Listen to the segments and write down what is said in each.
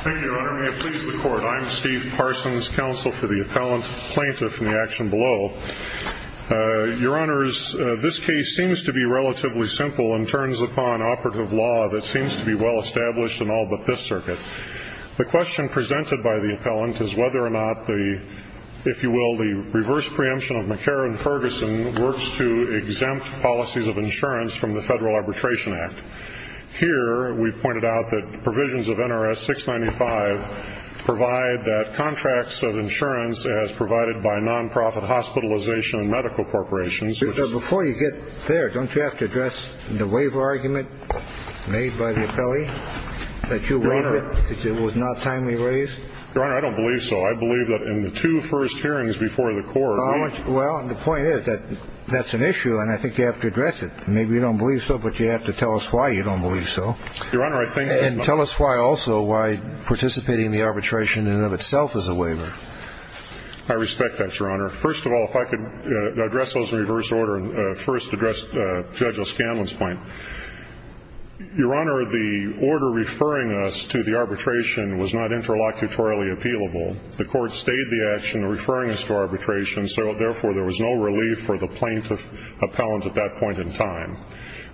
Thank you, Your Honor. May it please the Court, I'm Steve Parsons, Counsel for the Appellant, Plaintiff in the action below. Your Honors, this case seems to be relatively simple and turns upon operative law that seems to be well established in all but this circuit. The question presented by the Appellant is whether or not the, if you will, the reverse preemption of McCarran-Ferguson works to exempt policies of insurance from the Federal Arbitration Act. Here, we pointed out that provisions of NRS 695 provide that contracts of insurance as provided by non-profit hospitalization and medical corporations, which Before you get there, don't you have to address the waiver argument made by the Appellee that your waiver was not timely raised? Your Honor, I don't believe so. I believe that in the two first hearings before the Court Well, the point is that that's an issue and I think you have to address it. Maybe you don't believe so, but you have to tell us why you don't believe so. Your Honor, I think And tell us why also, why participating in the arbitration in and of itself is a waiver. I respect that, Your Honor. First of all, if I could address those in reverse order and first address Judge O'Scanlan's point. Your Honor, the order referring us to the arbitration was not interlocutorially appealable. The Court stayed the action referring us to arbitration, so therefore there was no relief for the plaintiff appellant at that point in time.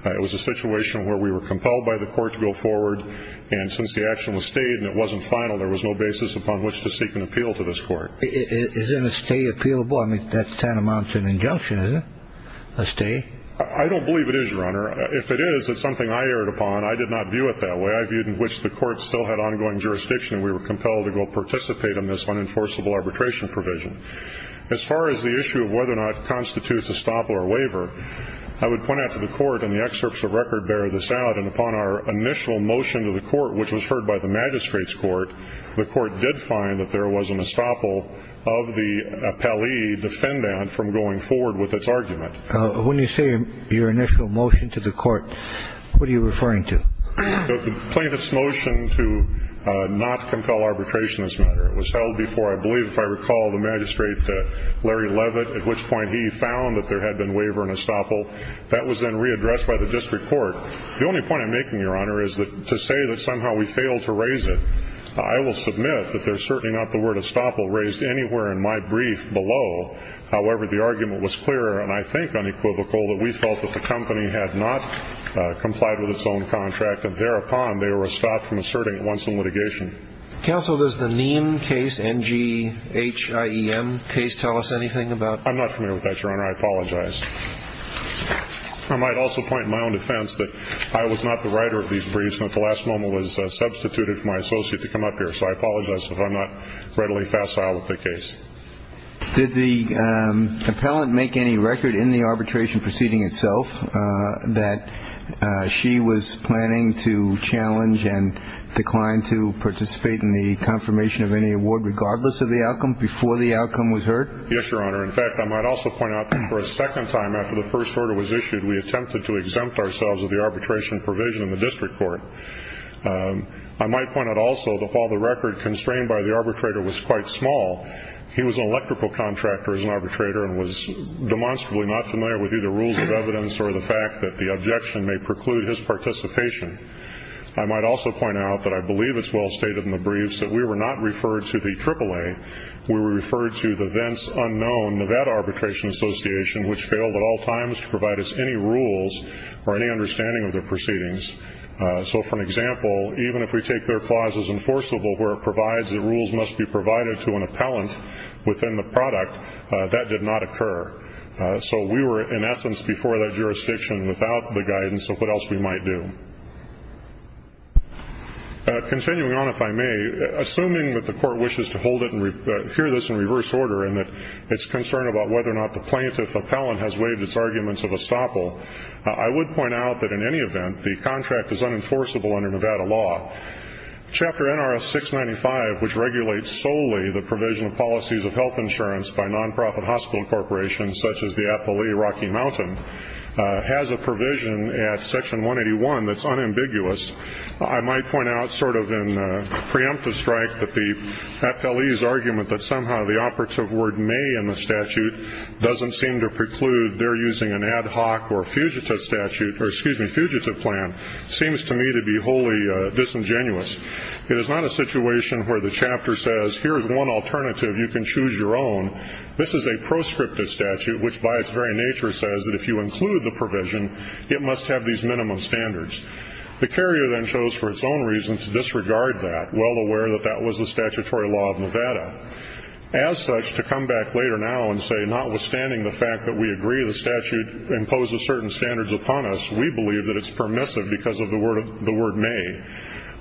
It was a situation where we were compelled by the Court to go forward, and since the action was stayed and it wasn't final, there was no basis upon which to seek an appeal to this Court. Isn't a stay appealable? I mean, that kind of amounts to an injunction, isn't it? A stay? I don't believe it is, Your Honor. If it is, it's something I erred upon. I did not view it that way. I viewed in which the Court still had ongoing jurisdiction and we were compelled to go participate in this unenforceable arbitration provision. As far as the issue of whether or not it constitutes a stop or a waiver, I would point out to the Court, and the excerpts of record bear this out, and upon our initial motion to the Court, which was heard by the Magistrate's Court, the Court did find that there was an estoppel of the appellee defendant from going forward with its argument. When you say your initial motion to the Court, what are you referring to? The plaintiff's motion to not compel arbitration in this matter. It was held before, I believe, if I recall, the Magistrate Larry Levitt, at which point he found that there had been waiver and estoppel. That was then readdressed by the District Court. The only point I'm making, Your Honor, is that to say that somehow we failed to raise it, I will submit that there's certainly not the word estoppel raised anywhere in my brief below. However, the argument was clear, and I think unequivocal, that we felt that the company had not complied with its own contract, and thereupon they were stopped from asserting it once in litigation. Counsel, does the Niem case, N-G-H-I-E-M case, tell us anything about it? I'm not familiar with that, Your Honor. I apologize. I might also point in my own defense that I was not the writer of these briefs, and at the last moment was substituted for my associate to come up here. So I apologize if I'm not readily facile with the case. Did the appellant make any record in the arbitration proceeding itself that she was planning to challenge and decline to participate in the confirmation of any award regardless of the outcome before the outcome was heard? Yes, Your Honor. In fact, I might also point out that for a second time after the first order was issued, we attempted to exempt ourselves of the arbitration provision in the District Court. I might point out also that while the record constrained by the arbitrator was quite small, he was an electrical contractor as an arbitrator and was demonstrably not familiar with either rules of evidence or the fact that the objection may preclude his participation. I might also point out that I believe it's well stated in the briefs that we were not referred to the AAA. We were referred to the thence unknown Nevada Arbitration Association, which failed at all times to provide us any rules or any understanding of their proceedings. So, for an example, even if we take their clause as enforceable, where it provides that rules must be provided to an appellant within the product, that did not occur. So we were, in essence, before that jurisdiction without the guidance of what else we might do. Continuing on, if I may, assuming that the Court wishes to hold it and hear this in reverse order and that it's concerned about whether or not the plaintiff appellant has waived its arguments of estoppel, I would point out that in any event, the contract is unenforceable under Nevada law. Chapter NRS 695, which regulates solely the provision of policies of health insurance by non-profit hospital corporations such as the appellee Rocky Mountain, has a provision at section 181 that's unambiguous. I might point out, sort of in preemptive strike, that the appellee's argument that somehow the operative word may in the statute doesn't seem to preclude they're using an ad hoc or fugitive statute, or excuse me, fugitive plan, seems to me to be wholly disingenuous. It is not a situation where the chapter says, here's one alternative, you can choose your own. This is a proscriptive statute, which by its very nature says that if you include the provision, it must have these minimum standards. The carrier then chose for its own reason to disregard that, well aware that that was the statutory law of Nevada. As such, to come back later now and say notwithstanding the fact that we agree the statute imposes certain standards upon us, we believe that it's permissive because of the word may.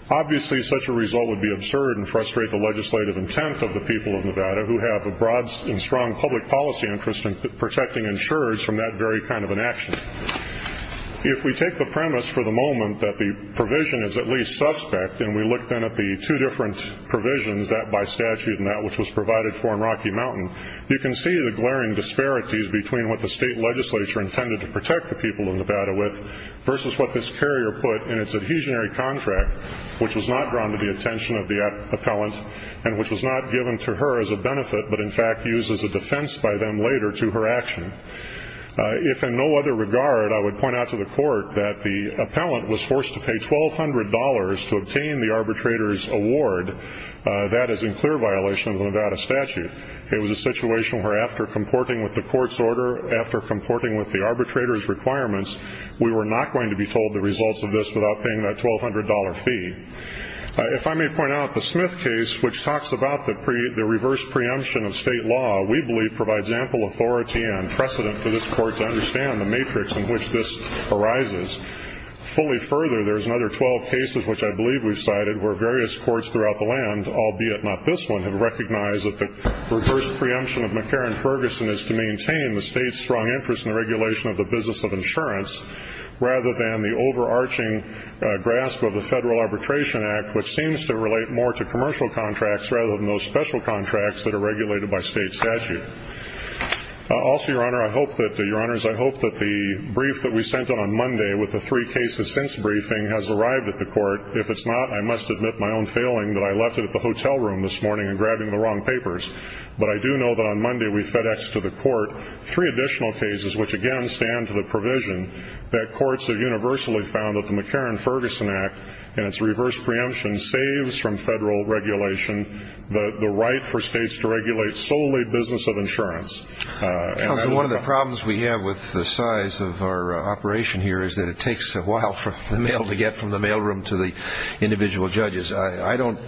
Obviously, such a result would be absurd and frustrate the legislative intent of the people of Nevada, who have a broad and strong public policy interest in protecting insurers from that very kind of an action. If we take the premise for the moment that the provision is at least suspect, and we look then at the two different provisions, that by statute and that which was provided for in Rocky Mountain, you can see the glaring disparities between what the state legislature intended to protect the people of Nevada with versus what this carrier put in its adhesionary contract, which was not drawn to the attention of the appellant and which was not given to her as a benefit but, in fact, used as a defense by them later to her action. If in no other regard, I would point out to the court that the appellant was forced to pay $1,200 to obtain the arbitrator's award, that is in clear violation of the Nevada statute. It was a situation where after comporting with the court's order, after comporting with the arbitrator's requirements, we were not going to be told the results of this without paying that $1,200 fee. If I may point out the Smith case, which talks about the reverse preemption of state law, we believe provides ample authority and precedent for this court to understand the matrix in which this arises. Fully further, there's another 12 cases, which I believe we've cited, where various courts throughout the land, albeit not this one, have recognized that the reverse preemption of McCarran-Ferguson is to maintain the state's strong interest in the regulation of the business of insurance rather than the overarching grasp of the Federal Arbitration Act, which seems to relate more to commercial contracts rather than those special contracts that are regulated by state statute. Also, Your Honor, I hope that the brief that we sent out on Monday with the three cases since briefing has arrived at the court. If it's not, I must admit my own failing that I left it at the hotel room this morning and grabbed it in the wrong papers. But I do know that on Monday we fed X to the court three additional cases, which again stand to the provision that courts have universally found that the McCarran-Ferguson Act and its reverse preemption saves from Federal regulation the right for states to regulate solely business of insurance. Counsel, one of the problems we have with the size of our operation here is that it takes a while for the mail to get from the mailroom to the individual judges. I don't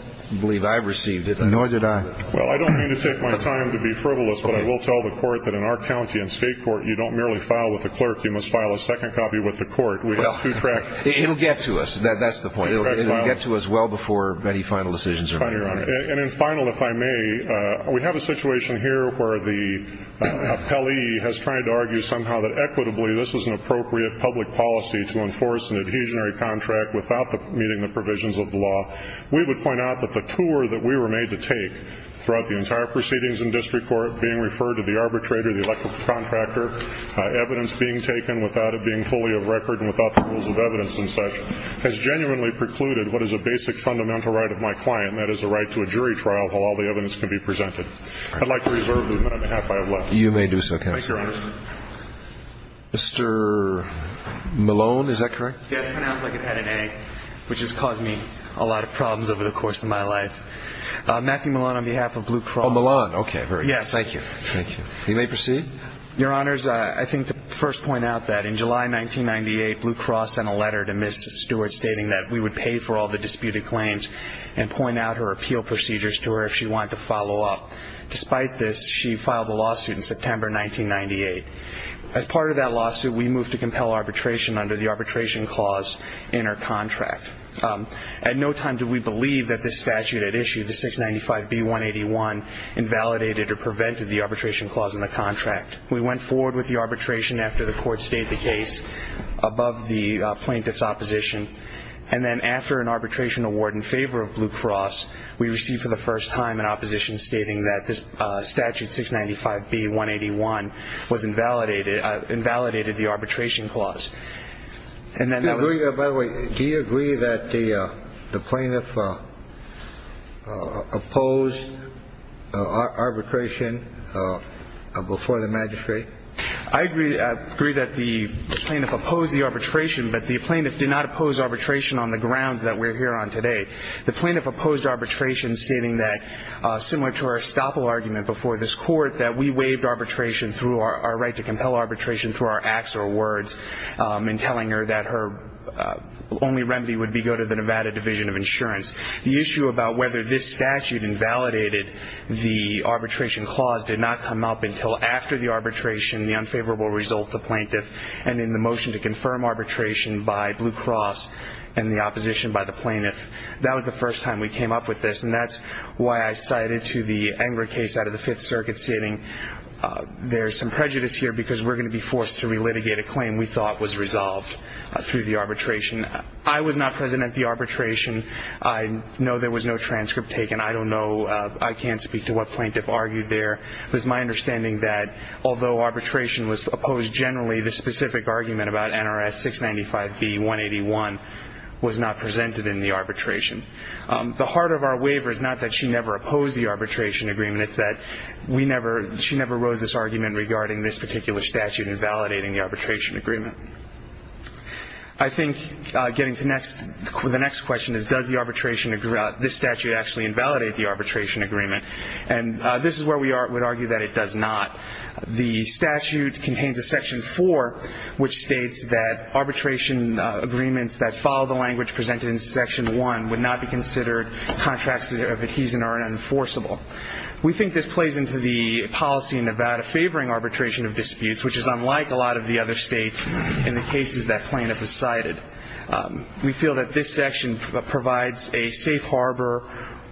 believe I've received it. Nor did I. Well, I don't mean to take my time to be frivolous, but I will tell the court that in our county and state court, you don't merely file with the clerk. You must file a second copy with the court. It'll get to us. That's the point. It'll get to us well before any final decisions are made. And in final, if I may, we have a situation here where the appellee has tried to argue somehow that equitably this is an appropriate public policy to enforce an adhesionary contract without meeting the provisions of the law. We would point out that the tour that we were made to take throughout the entire proceedings in district court, being referred to the arbitrator, the elective contractor, evidence being taken without it being fully of record and without the rules of evidence and such, has genuinely precluded what is a basic fundamental right of my client, and that is the right to a jury trial while all the evidence can be presented. I'd like to reserve the minute and a half I have left. You may do so, counsel. Thank you, Your Honor. Mr. Malone, is that correct? Yes, pronounced like it had an A, which has caused me a lot of problems over the course of my life. Matthew Malone on behalf of Blue Cross. Oh, Malone. Okay, very good. Yes, thank you. Thank you. You may proceed. Your Honors, I think to first point out that in July 1998, Blue Cross sent a letter to Ms. Stewart stating that we would pay for all the disputed claims and point out her appeal procedures to her if she wanted to follow up. Despite this, she filed a lawsuit in September 1998. As part of that lawsuit, we moved to compel arbitration under the arbitration clause in her contract. At no time did we believe that this statute at issue, the 695B181, invalidated or prevented the arbitration clause in the contract. We went forward with the arbitration after the court stayed the case above the plaintiff's opposition, and then after an arbitration award in favor of Blue Cross, we received for the first time in opposition stating that this statute 695B181 was invalidated, invalidated the arbitration clause. By the way, do you agree that the plaintiff opposed arbitration before the magistrate? I agree that the plaintiff opposed the arbitration, but the plaintiff did not oppose arbitration on the grounds that we're here on today. The plaintiff opposed arbitration stating that, similar to our estoppel argument before this court, that we waived arbitration through our right to compel arbitration through our acts or words in telling her that her only remedy would be go to the Nevada Division of Insurance. The issue about whether this statute invalidated the arbitration clause did not come up until after the arbitration, the unfavorable result, the plaintiff, and in the motion to confirm arbitration by Blue Cross and the opposition by the plaintiff. That was the first time we came up with this, and that's why I cited to the Engra case out of the Fifth Circuit, stating there's some prejudice here because we're going to be forced to relitigate a claim we thought was resolved through the arbitration. I was not present at the arbitration. I know there was no transcript taken. I don't know. I can't speak to what plaintiff argued there. It was my understanding that, although arbitration was opposed generally, the specific argument about NRS 695B-181 was not presented in the arbitration. The heart of our waiver is not that she never opposed the arbitration agreement. It's that she never rose this argument regarding this particular statute invalidating the arbitration agreement. I think getting to the next question is does this statute actually invalidate the arbitration agreement, and this is where we would argue that it does not. The statute contains a Section 4, which states that arbitration agreements that follow the language presented in Section 1 would not be considered contracts of adhesion or enforceable. We think this plays into the policy in Nevada favoring arbitration of disputes, which is unlike a lot of the other states in the cases that plaintiff has cited. We feel that this section provides a safe harbor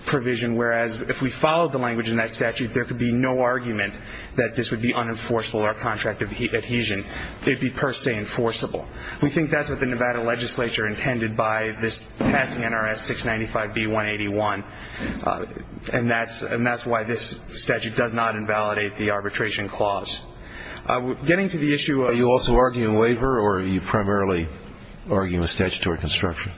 provision, whereas if we followed the language in that statute, there could be no argument that this would be unenforceable or contract of adhesion. It would be per se enforceable. We think that's what the Nevada legislature intended by this passing NRS 695B-181, and that's why this statute does not invalidate the arbitration clause. Getting to the issue of ---- Are you also arguing a waiver, or are you primarily arguing a statutory construction?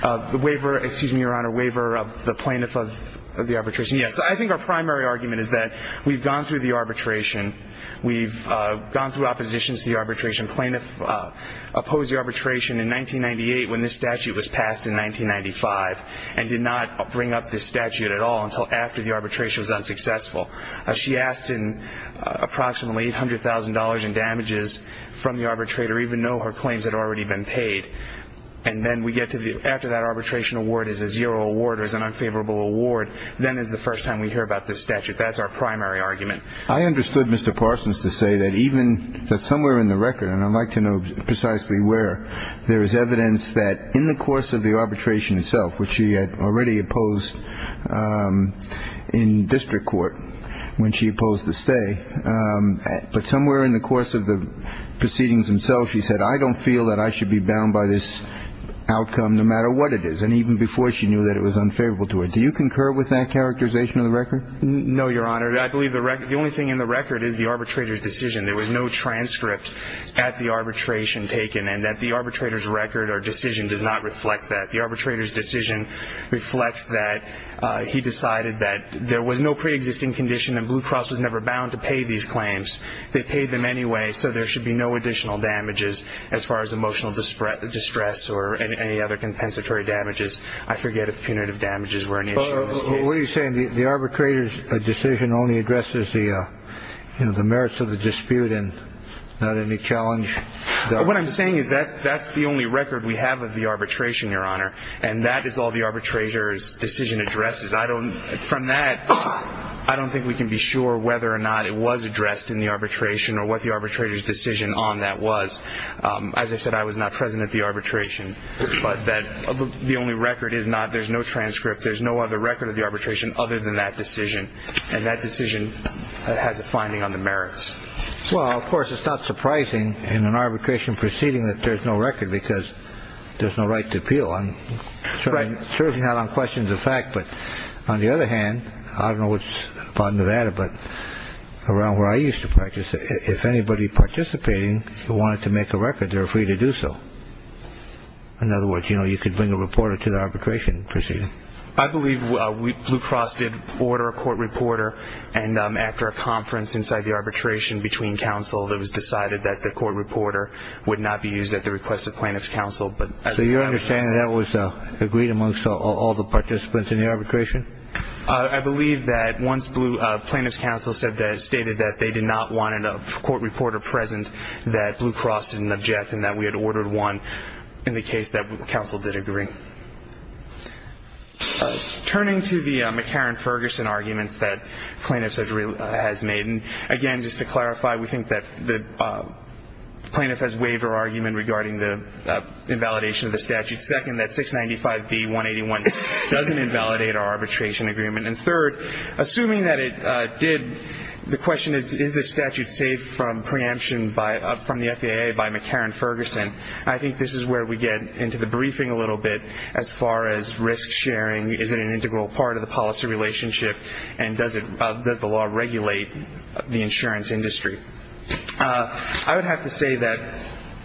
The waiver, excuse me, Your Honor, waiver of the plaintiff of the arbitration, yes. I think our primary argument is that we've gone through the arbitration. We've gone through opposition to the arbitration. Plaintiff opposed the arbitration in 1998 when this statute was passed in 1995 and did not bring up this statute at all until after the arbitration was unsuccessful. She asked approximately $800,000 in damages from the arbitrator, even though her claims had already been paid. And then we get to the after that arbitration award is a zero award or is an unfavorable award. Then is the first time we hear about this statute. That's our primary argument. I understood Mr. Parsons to say that even somewhere in the record, and I'd like to know precisely where, there is evidence that in the course of the arbitration itself, which she had already opposed in district court when she opposed the stay, but somewhere in the course of the proceedings themselves she said, I don't feel that I should be bound by this outcome no matter what it is, and even before she knew that it was unfavorable to her. Do you concur with that characterization of the record? No, Your Honor. I believe the only thing in the record is the arbitrator's decision. There was no transcript at the arbitration taken, and that the arbitrator's record or decision does not reflect that. The arbitrator's decision reflects that he decided that there was no preexisting condition and Blue Cross was never bound to pay these claims. They paid them anyway, so there should be no additional damages as far as emotional distress or any other compensatory damages. I forget if punitive damages were an issue in this case. What are you saying? The arbitrator's decision only addresses the merits of the dispute and not any challenge? What I'm saying is that's the only record we have of the arbitration, Your Honor, and that is all the arbitrator's decision addresses. From that, I don't think we can be sure whether or not it was addressed in the arbitration or what the arbitrator's decision on that was. As I said, I was not present at the arbitration, but the only record is not there's no transcript. There's no other record of the arbitration other than that decision, and that decision has a finding on the merits. Well, of course, it's not surprising in an arbitration proceeding that there's no record because there's no right to appeal. I'm certainly not on questions of fact, but on the other hand, I don't know about Nevada, but around where I used to practice, if anybody participating wanted to make a record, they were free to do so. In other words, you could bring a reporter to the arbitration proceeding. I believe Blue Cross did order a court reporter, and after a conference inside the arbitration between counsel, it was decided that the court reporter would not be used at the request of plaintiff's counsel. So you understand that was agreed amongst all the participants in the arbitration? I believe that once plaintiff's counsel stated that they did not want a court reporter present, that Blue Cross didn't object and that we had ordered one in the case that counsel did agree. Turning to the McCarran-Ferguson arguments that plaintiff has made, and again, just to clarify, we think that the plaintiff has waived her argument regarding the invalidation of the statute. Second, that 695-D-181 doesn't invalidate our arbitration agreement. And third, assuming that it did, the question is, is this statute saved from preemption from the FAA by McCarran-Ferguson? I think this is where we get into the briefing a little bit as far as risk sharing. Is it an integral part of the policy relationship, and does the law regulate the insurance industry? I would have to say that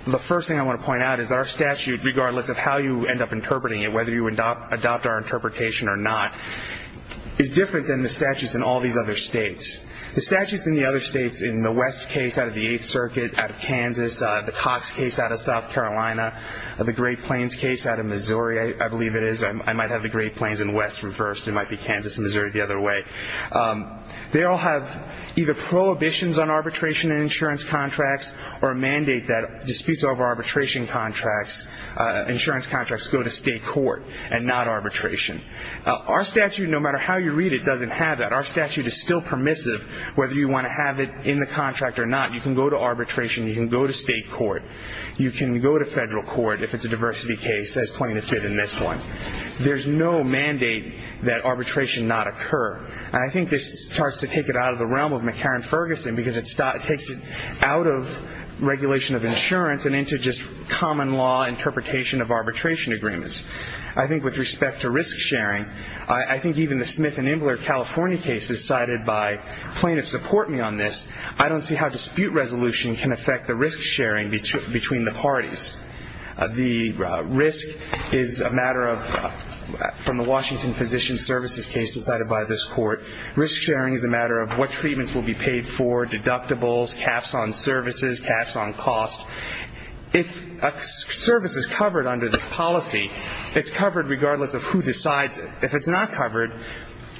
the first thing I want to point out is our statute, regardless of how you end up interpreting it, whether you adopt our interpretation or not, is different than the statutes in all these other states. The statutes in the other states, in the West case out of the Eighth Circuit out of Kansas, the Cox case out of South Carolina, the Great Plains case out of Missouri, I believe it is. I might have the Great Plains and West reversed. It might be Kansas and Missouri the other way. They all have either prohibitions on arbitration and insurance contracts or a mandate that disputes over arbitration contracts, insurance contracts, go to state court and not arbitration. Our statute, no matter how you read it, doesn't have that. Our statute is still permissive whether you want to have it in the contract or not. You can go to arbitration. You can go to state court. You can go to federal court if it's a diversity case. There's plenty to fit in this one. There's no mandate that arbitration not occur. And I think this starts to take it out of the realm of McCarran-Ferguson because it takes it out of regulation of insurance and into just common law interpretation of arbitration agreements. I think with respect to risk sharing, I think even the Smith and Imbler California case is cited by plaintiffs to court me on this. I don't see how dispute resolution can affect the risk sharing between the parties. The risk is a matter of, from the Washington Physician Services case decided by this court, risk sharing is a matter of what treatments will be paid for, deductibles, caps on services, caps on cost. If a service is covered under this policy, it's covered regardless of who decides it. If it's not covered,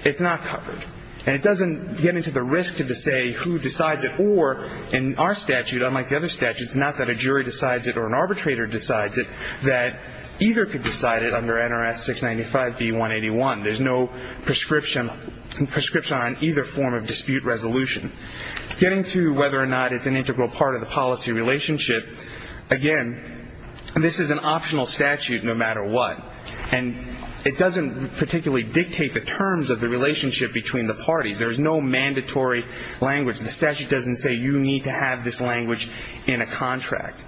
it's not covered. And it doesn't get into the risk to say who decides it. Therefore, in our statute, unlike the other statutes, it's not that a jury decides it or an arbitrator decides it, that either could decide it under NRS 695B181. There's no prescription on either form of dispute resolution. Getting to whether or not it's an integral part of the policy relationship, again, this is an optional statute no matter what. And it doesn't particularly dictate the terms of the relationship between the parties. There is no mandatory language. The statute doesn't say you need to have this language in a contract.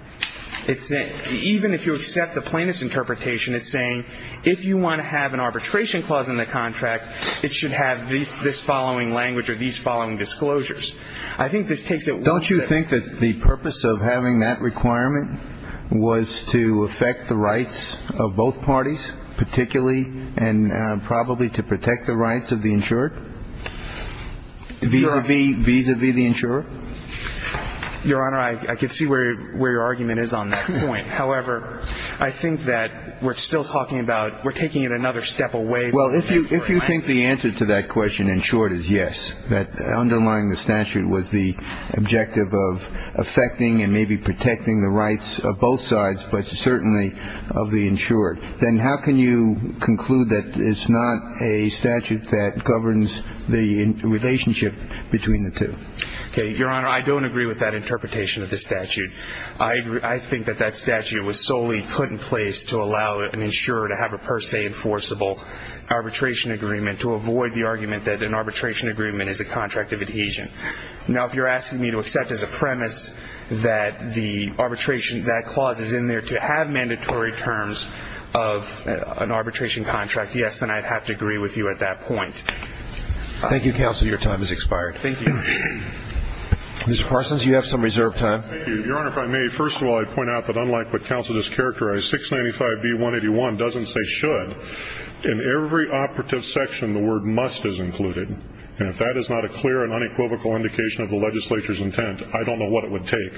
Even if you accept the plaintiff's interpretation, it's saying if you want to have an arbitration clause in the contract, it should have this following language or these following disclosures. I think this takes it one step further. Don't you think that the purpose of having that requirement was to affect the rights of both parties, particularly and probably to protect the rights of the insured? Vis-à-vis the insurer? Your Honor, I can see where your argument is on that point. However, I think that we're still talking about we're taking it another step away from that requirement. Well, if you think the answer to that question in short is yes, that underlying the statute was the objective of affecting and maybe protecting the rights of both sides, but certainly of the insured, then how can you conclude that it's not a statute that governs the relationship between the two? Okay. Your Honor, I don't agree with that interpretation of the statute. I think that that statute was solely put in place to allow an insurer to have a per se enforceable arbitration agreement to avoid the argument that an arbitration agreement is a contract of adhesion. Now, if you're asking me to accept as a premise that the arbitration, that clause is in there to have mandatory terms of an arbitration contract, yes, then I'd have to agree with you at that point. Thank you, counsel. Your time has expired. Thank you. Mr. Parsons, you have some reserved time. Thank you. Your Honor, if I may, first of all, I'd point out that unlike what counsel just characterized, 695B181 doesn't say should. In every operative section, the word must is included. And if that is not a clear and unequivocal indication of the legislature's intent, I don't know what it would take.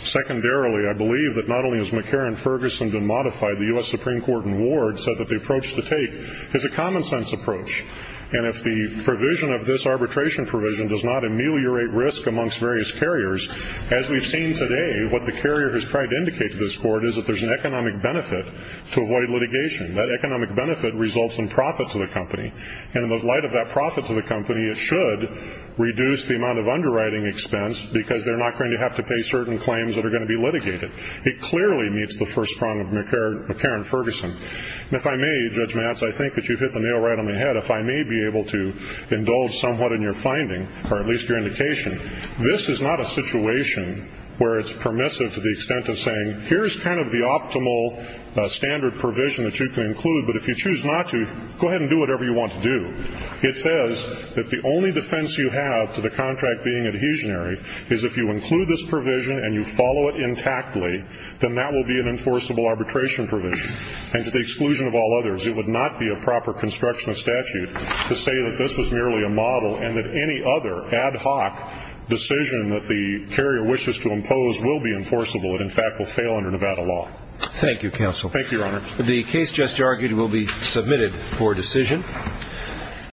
Secondarily, I believe that not only has McCarran-Ferguson been modified, the U.S. Supreme Court in Ward said that the approach to take is a common sense approach. And if the provision of this arbitration provision does not ameliorate risk amongst various carriers, as we've seen today, what the carrier has tried to indicate to this Court is that there's an economic benefit to avoid litigation. That economic benefit results in profit to the company. And in the light of that profit to the company, it should reduce the amount of underwriting expense because they're not going to have to pay certain claims that are going to be litigated. It clearly meets the first prong of McCarran-Ferguson. And if I may, Judge Matz, I think that you hit the nail right on the head. If I may be able to indulge somewhat in your finding, or at least your indication, this is not a situation where it's permissive to the extent of saying, here's kind of the optimal standard provision that you can include, but if you choose not to, go ahead and do whatever you want to do. It says that the only defense you have to the contract being adhesionary is if you include this provision and you follow it intactly, then that will be an enforceable arbitration provision. And to the exclusion of all others, it would not be a proper construction of statute to say that this was merely a model and that any other ad hoc decision that the carrier wishes to impose will be enforceable. It, in fact, will fail under Nevada law. Thank you, counsel. Thank you, Your Honor. The case just argued will be submitted for decision.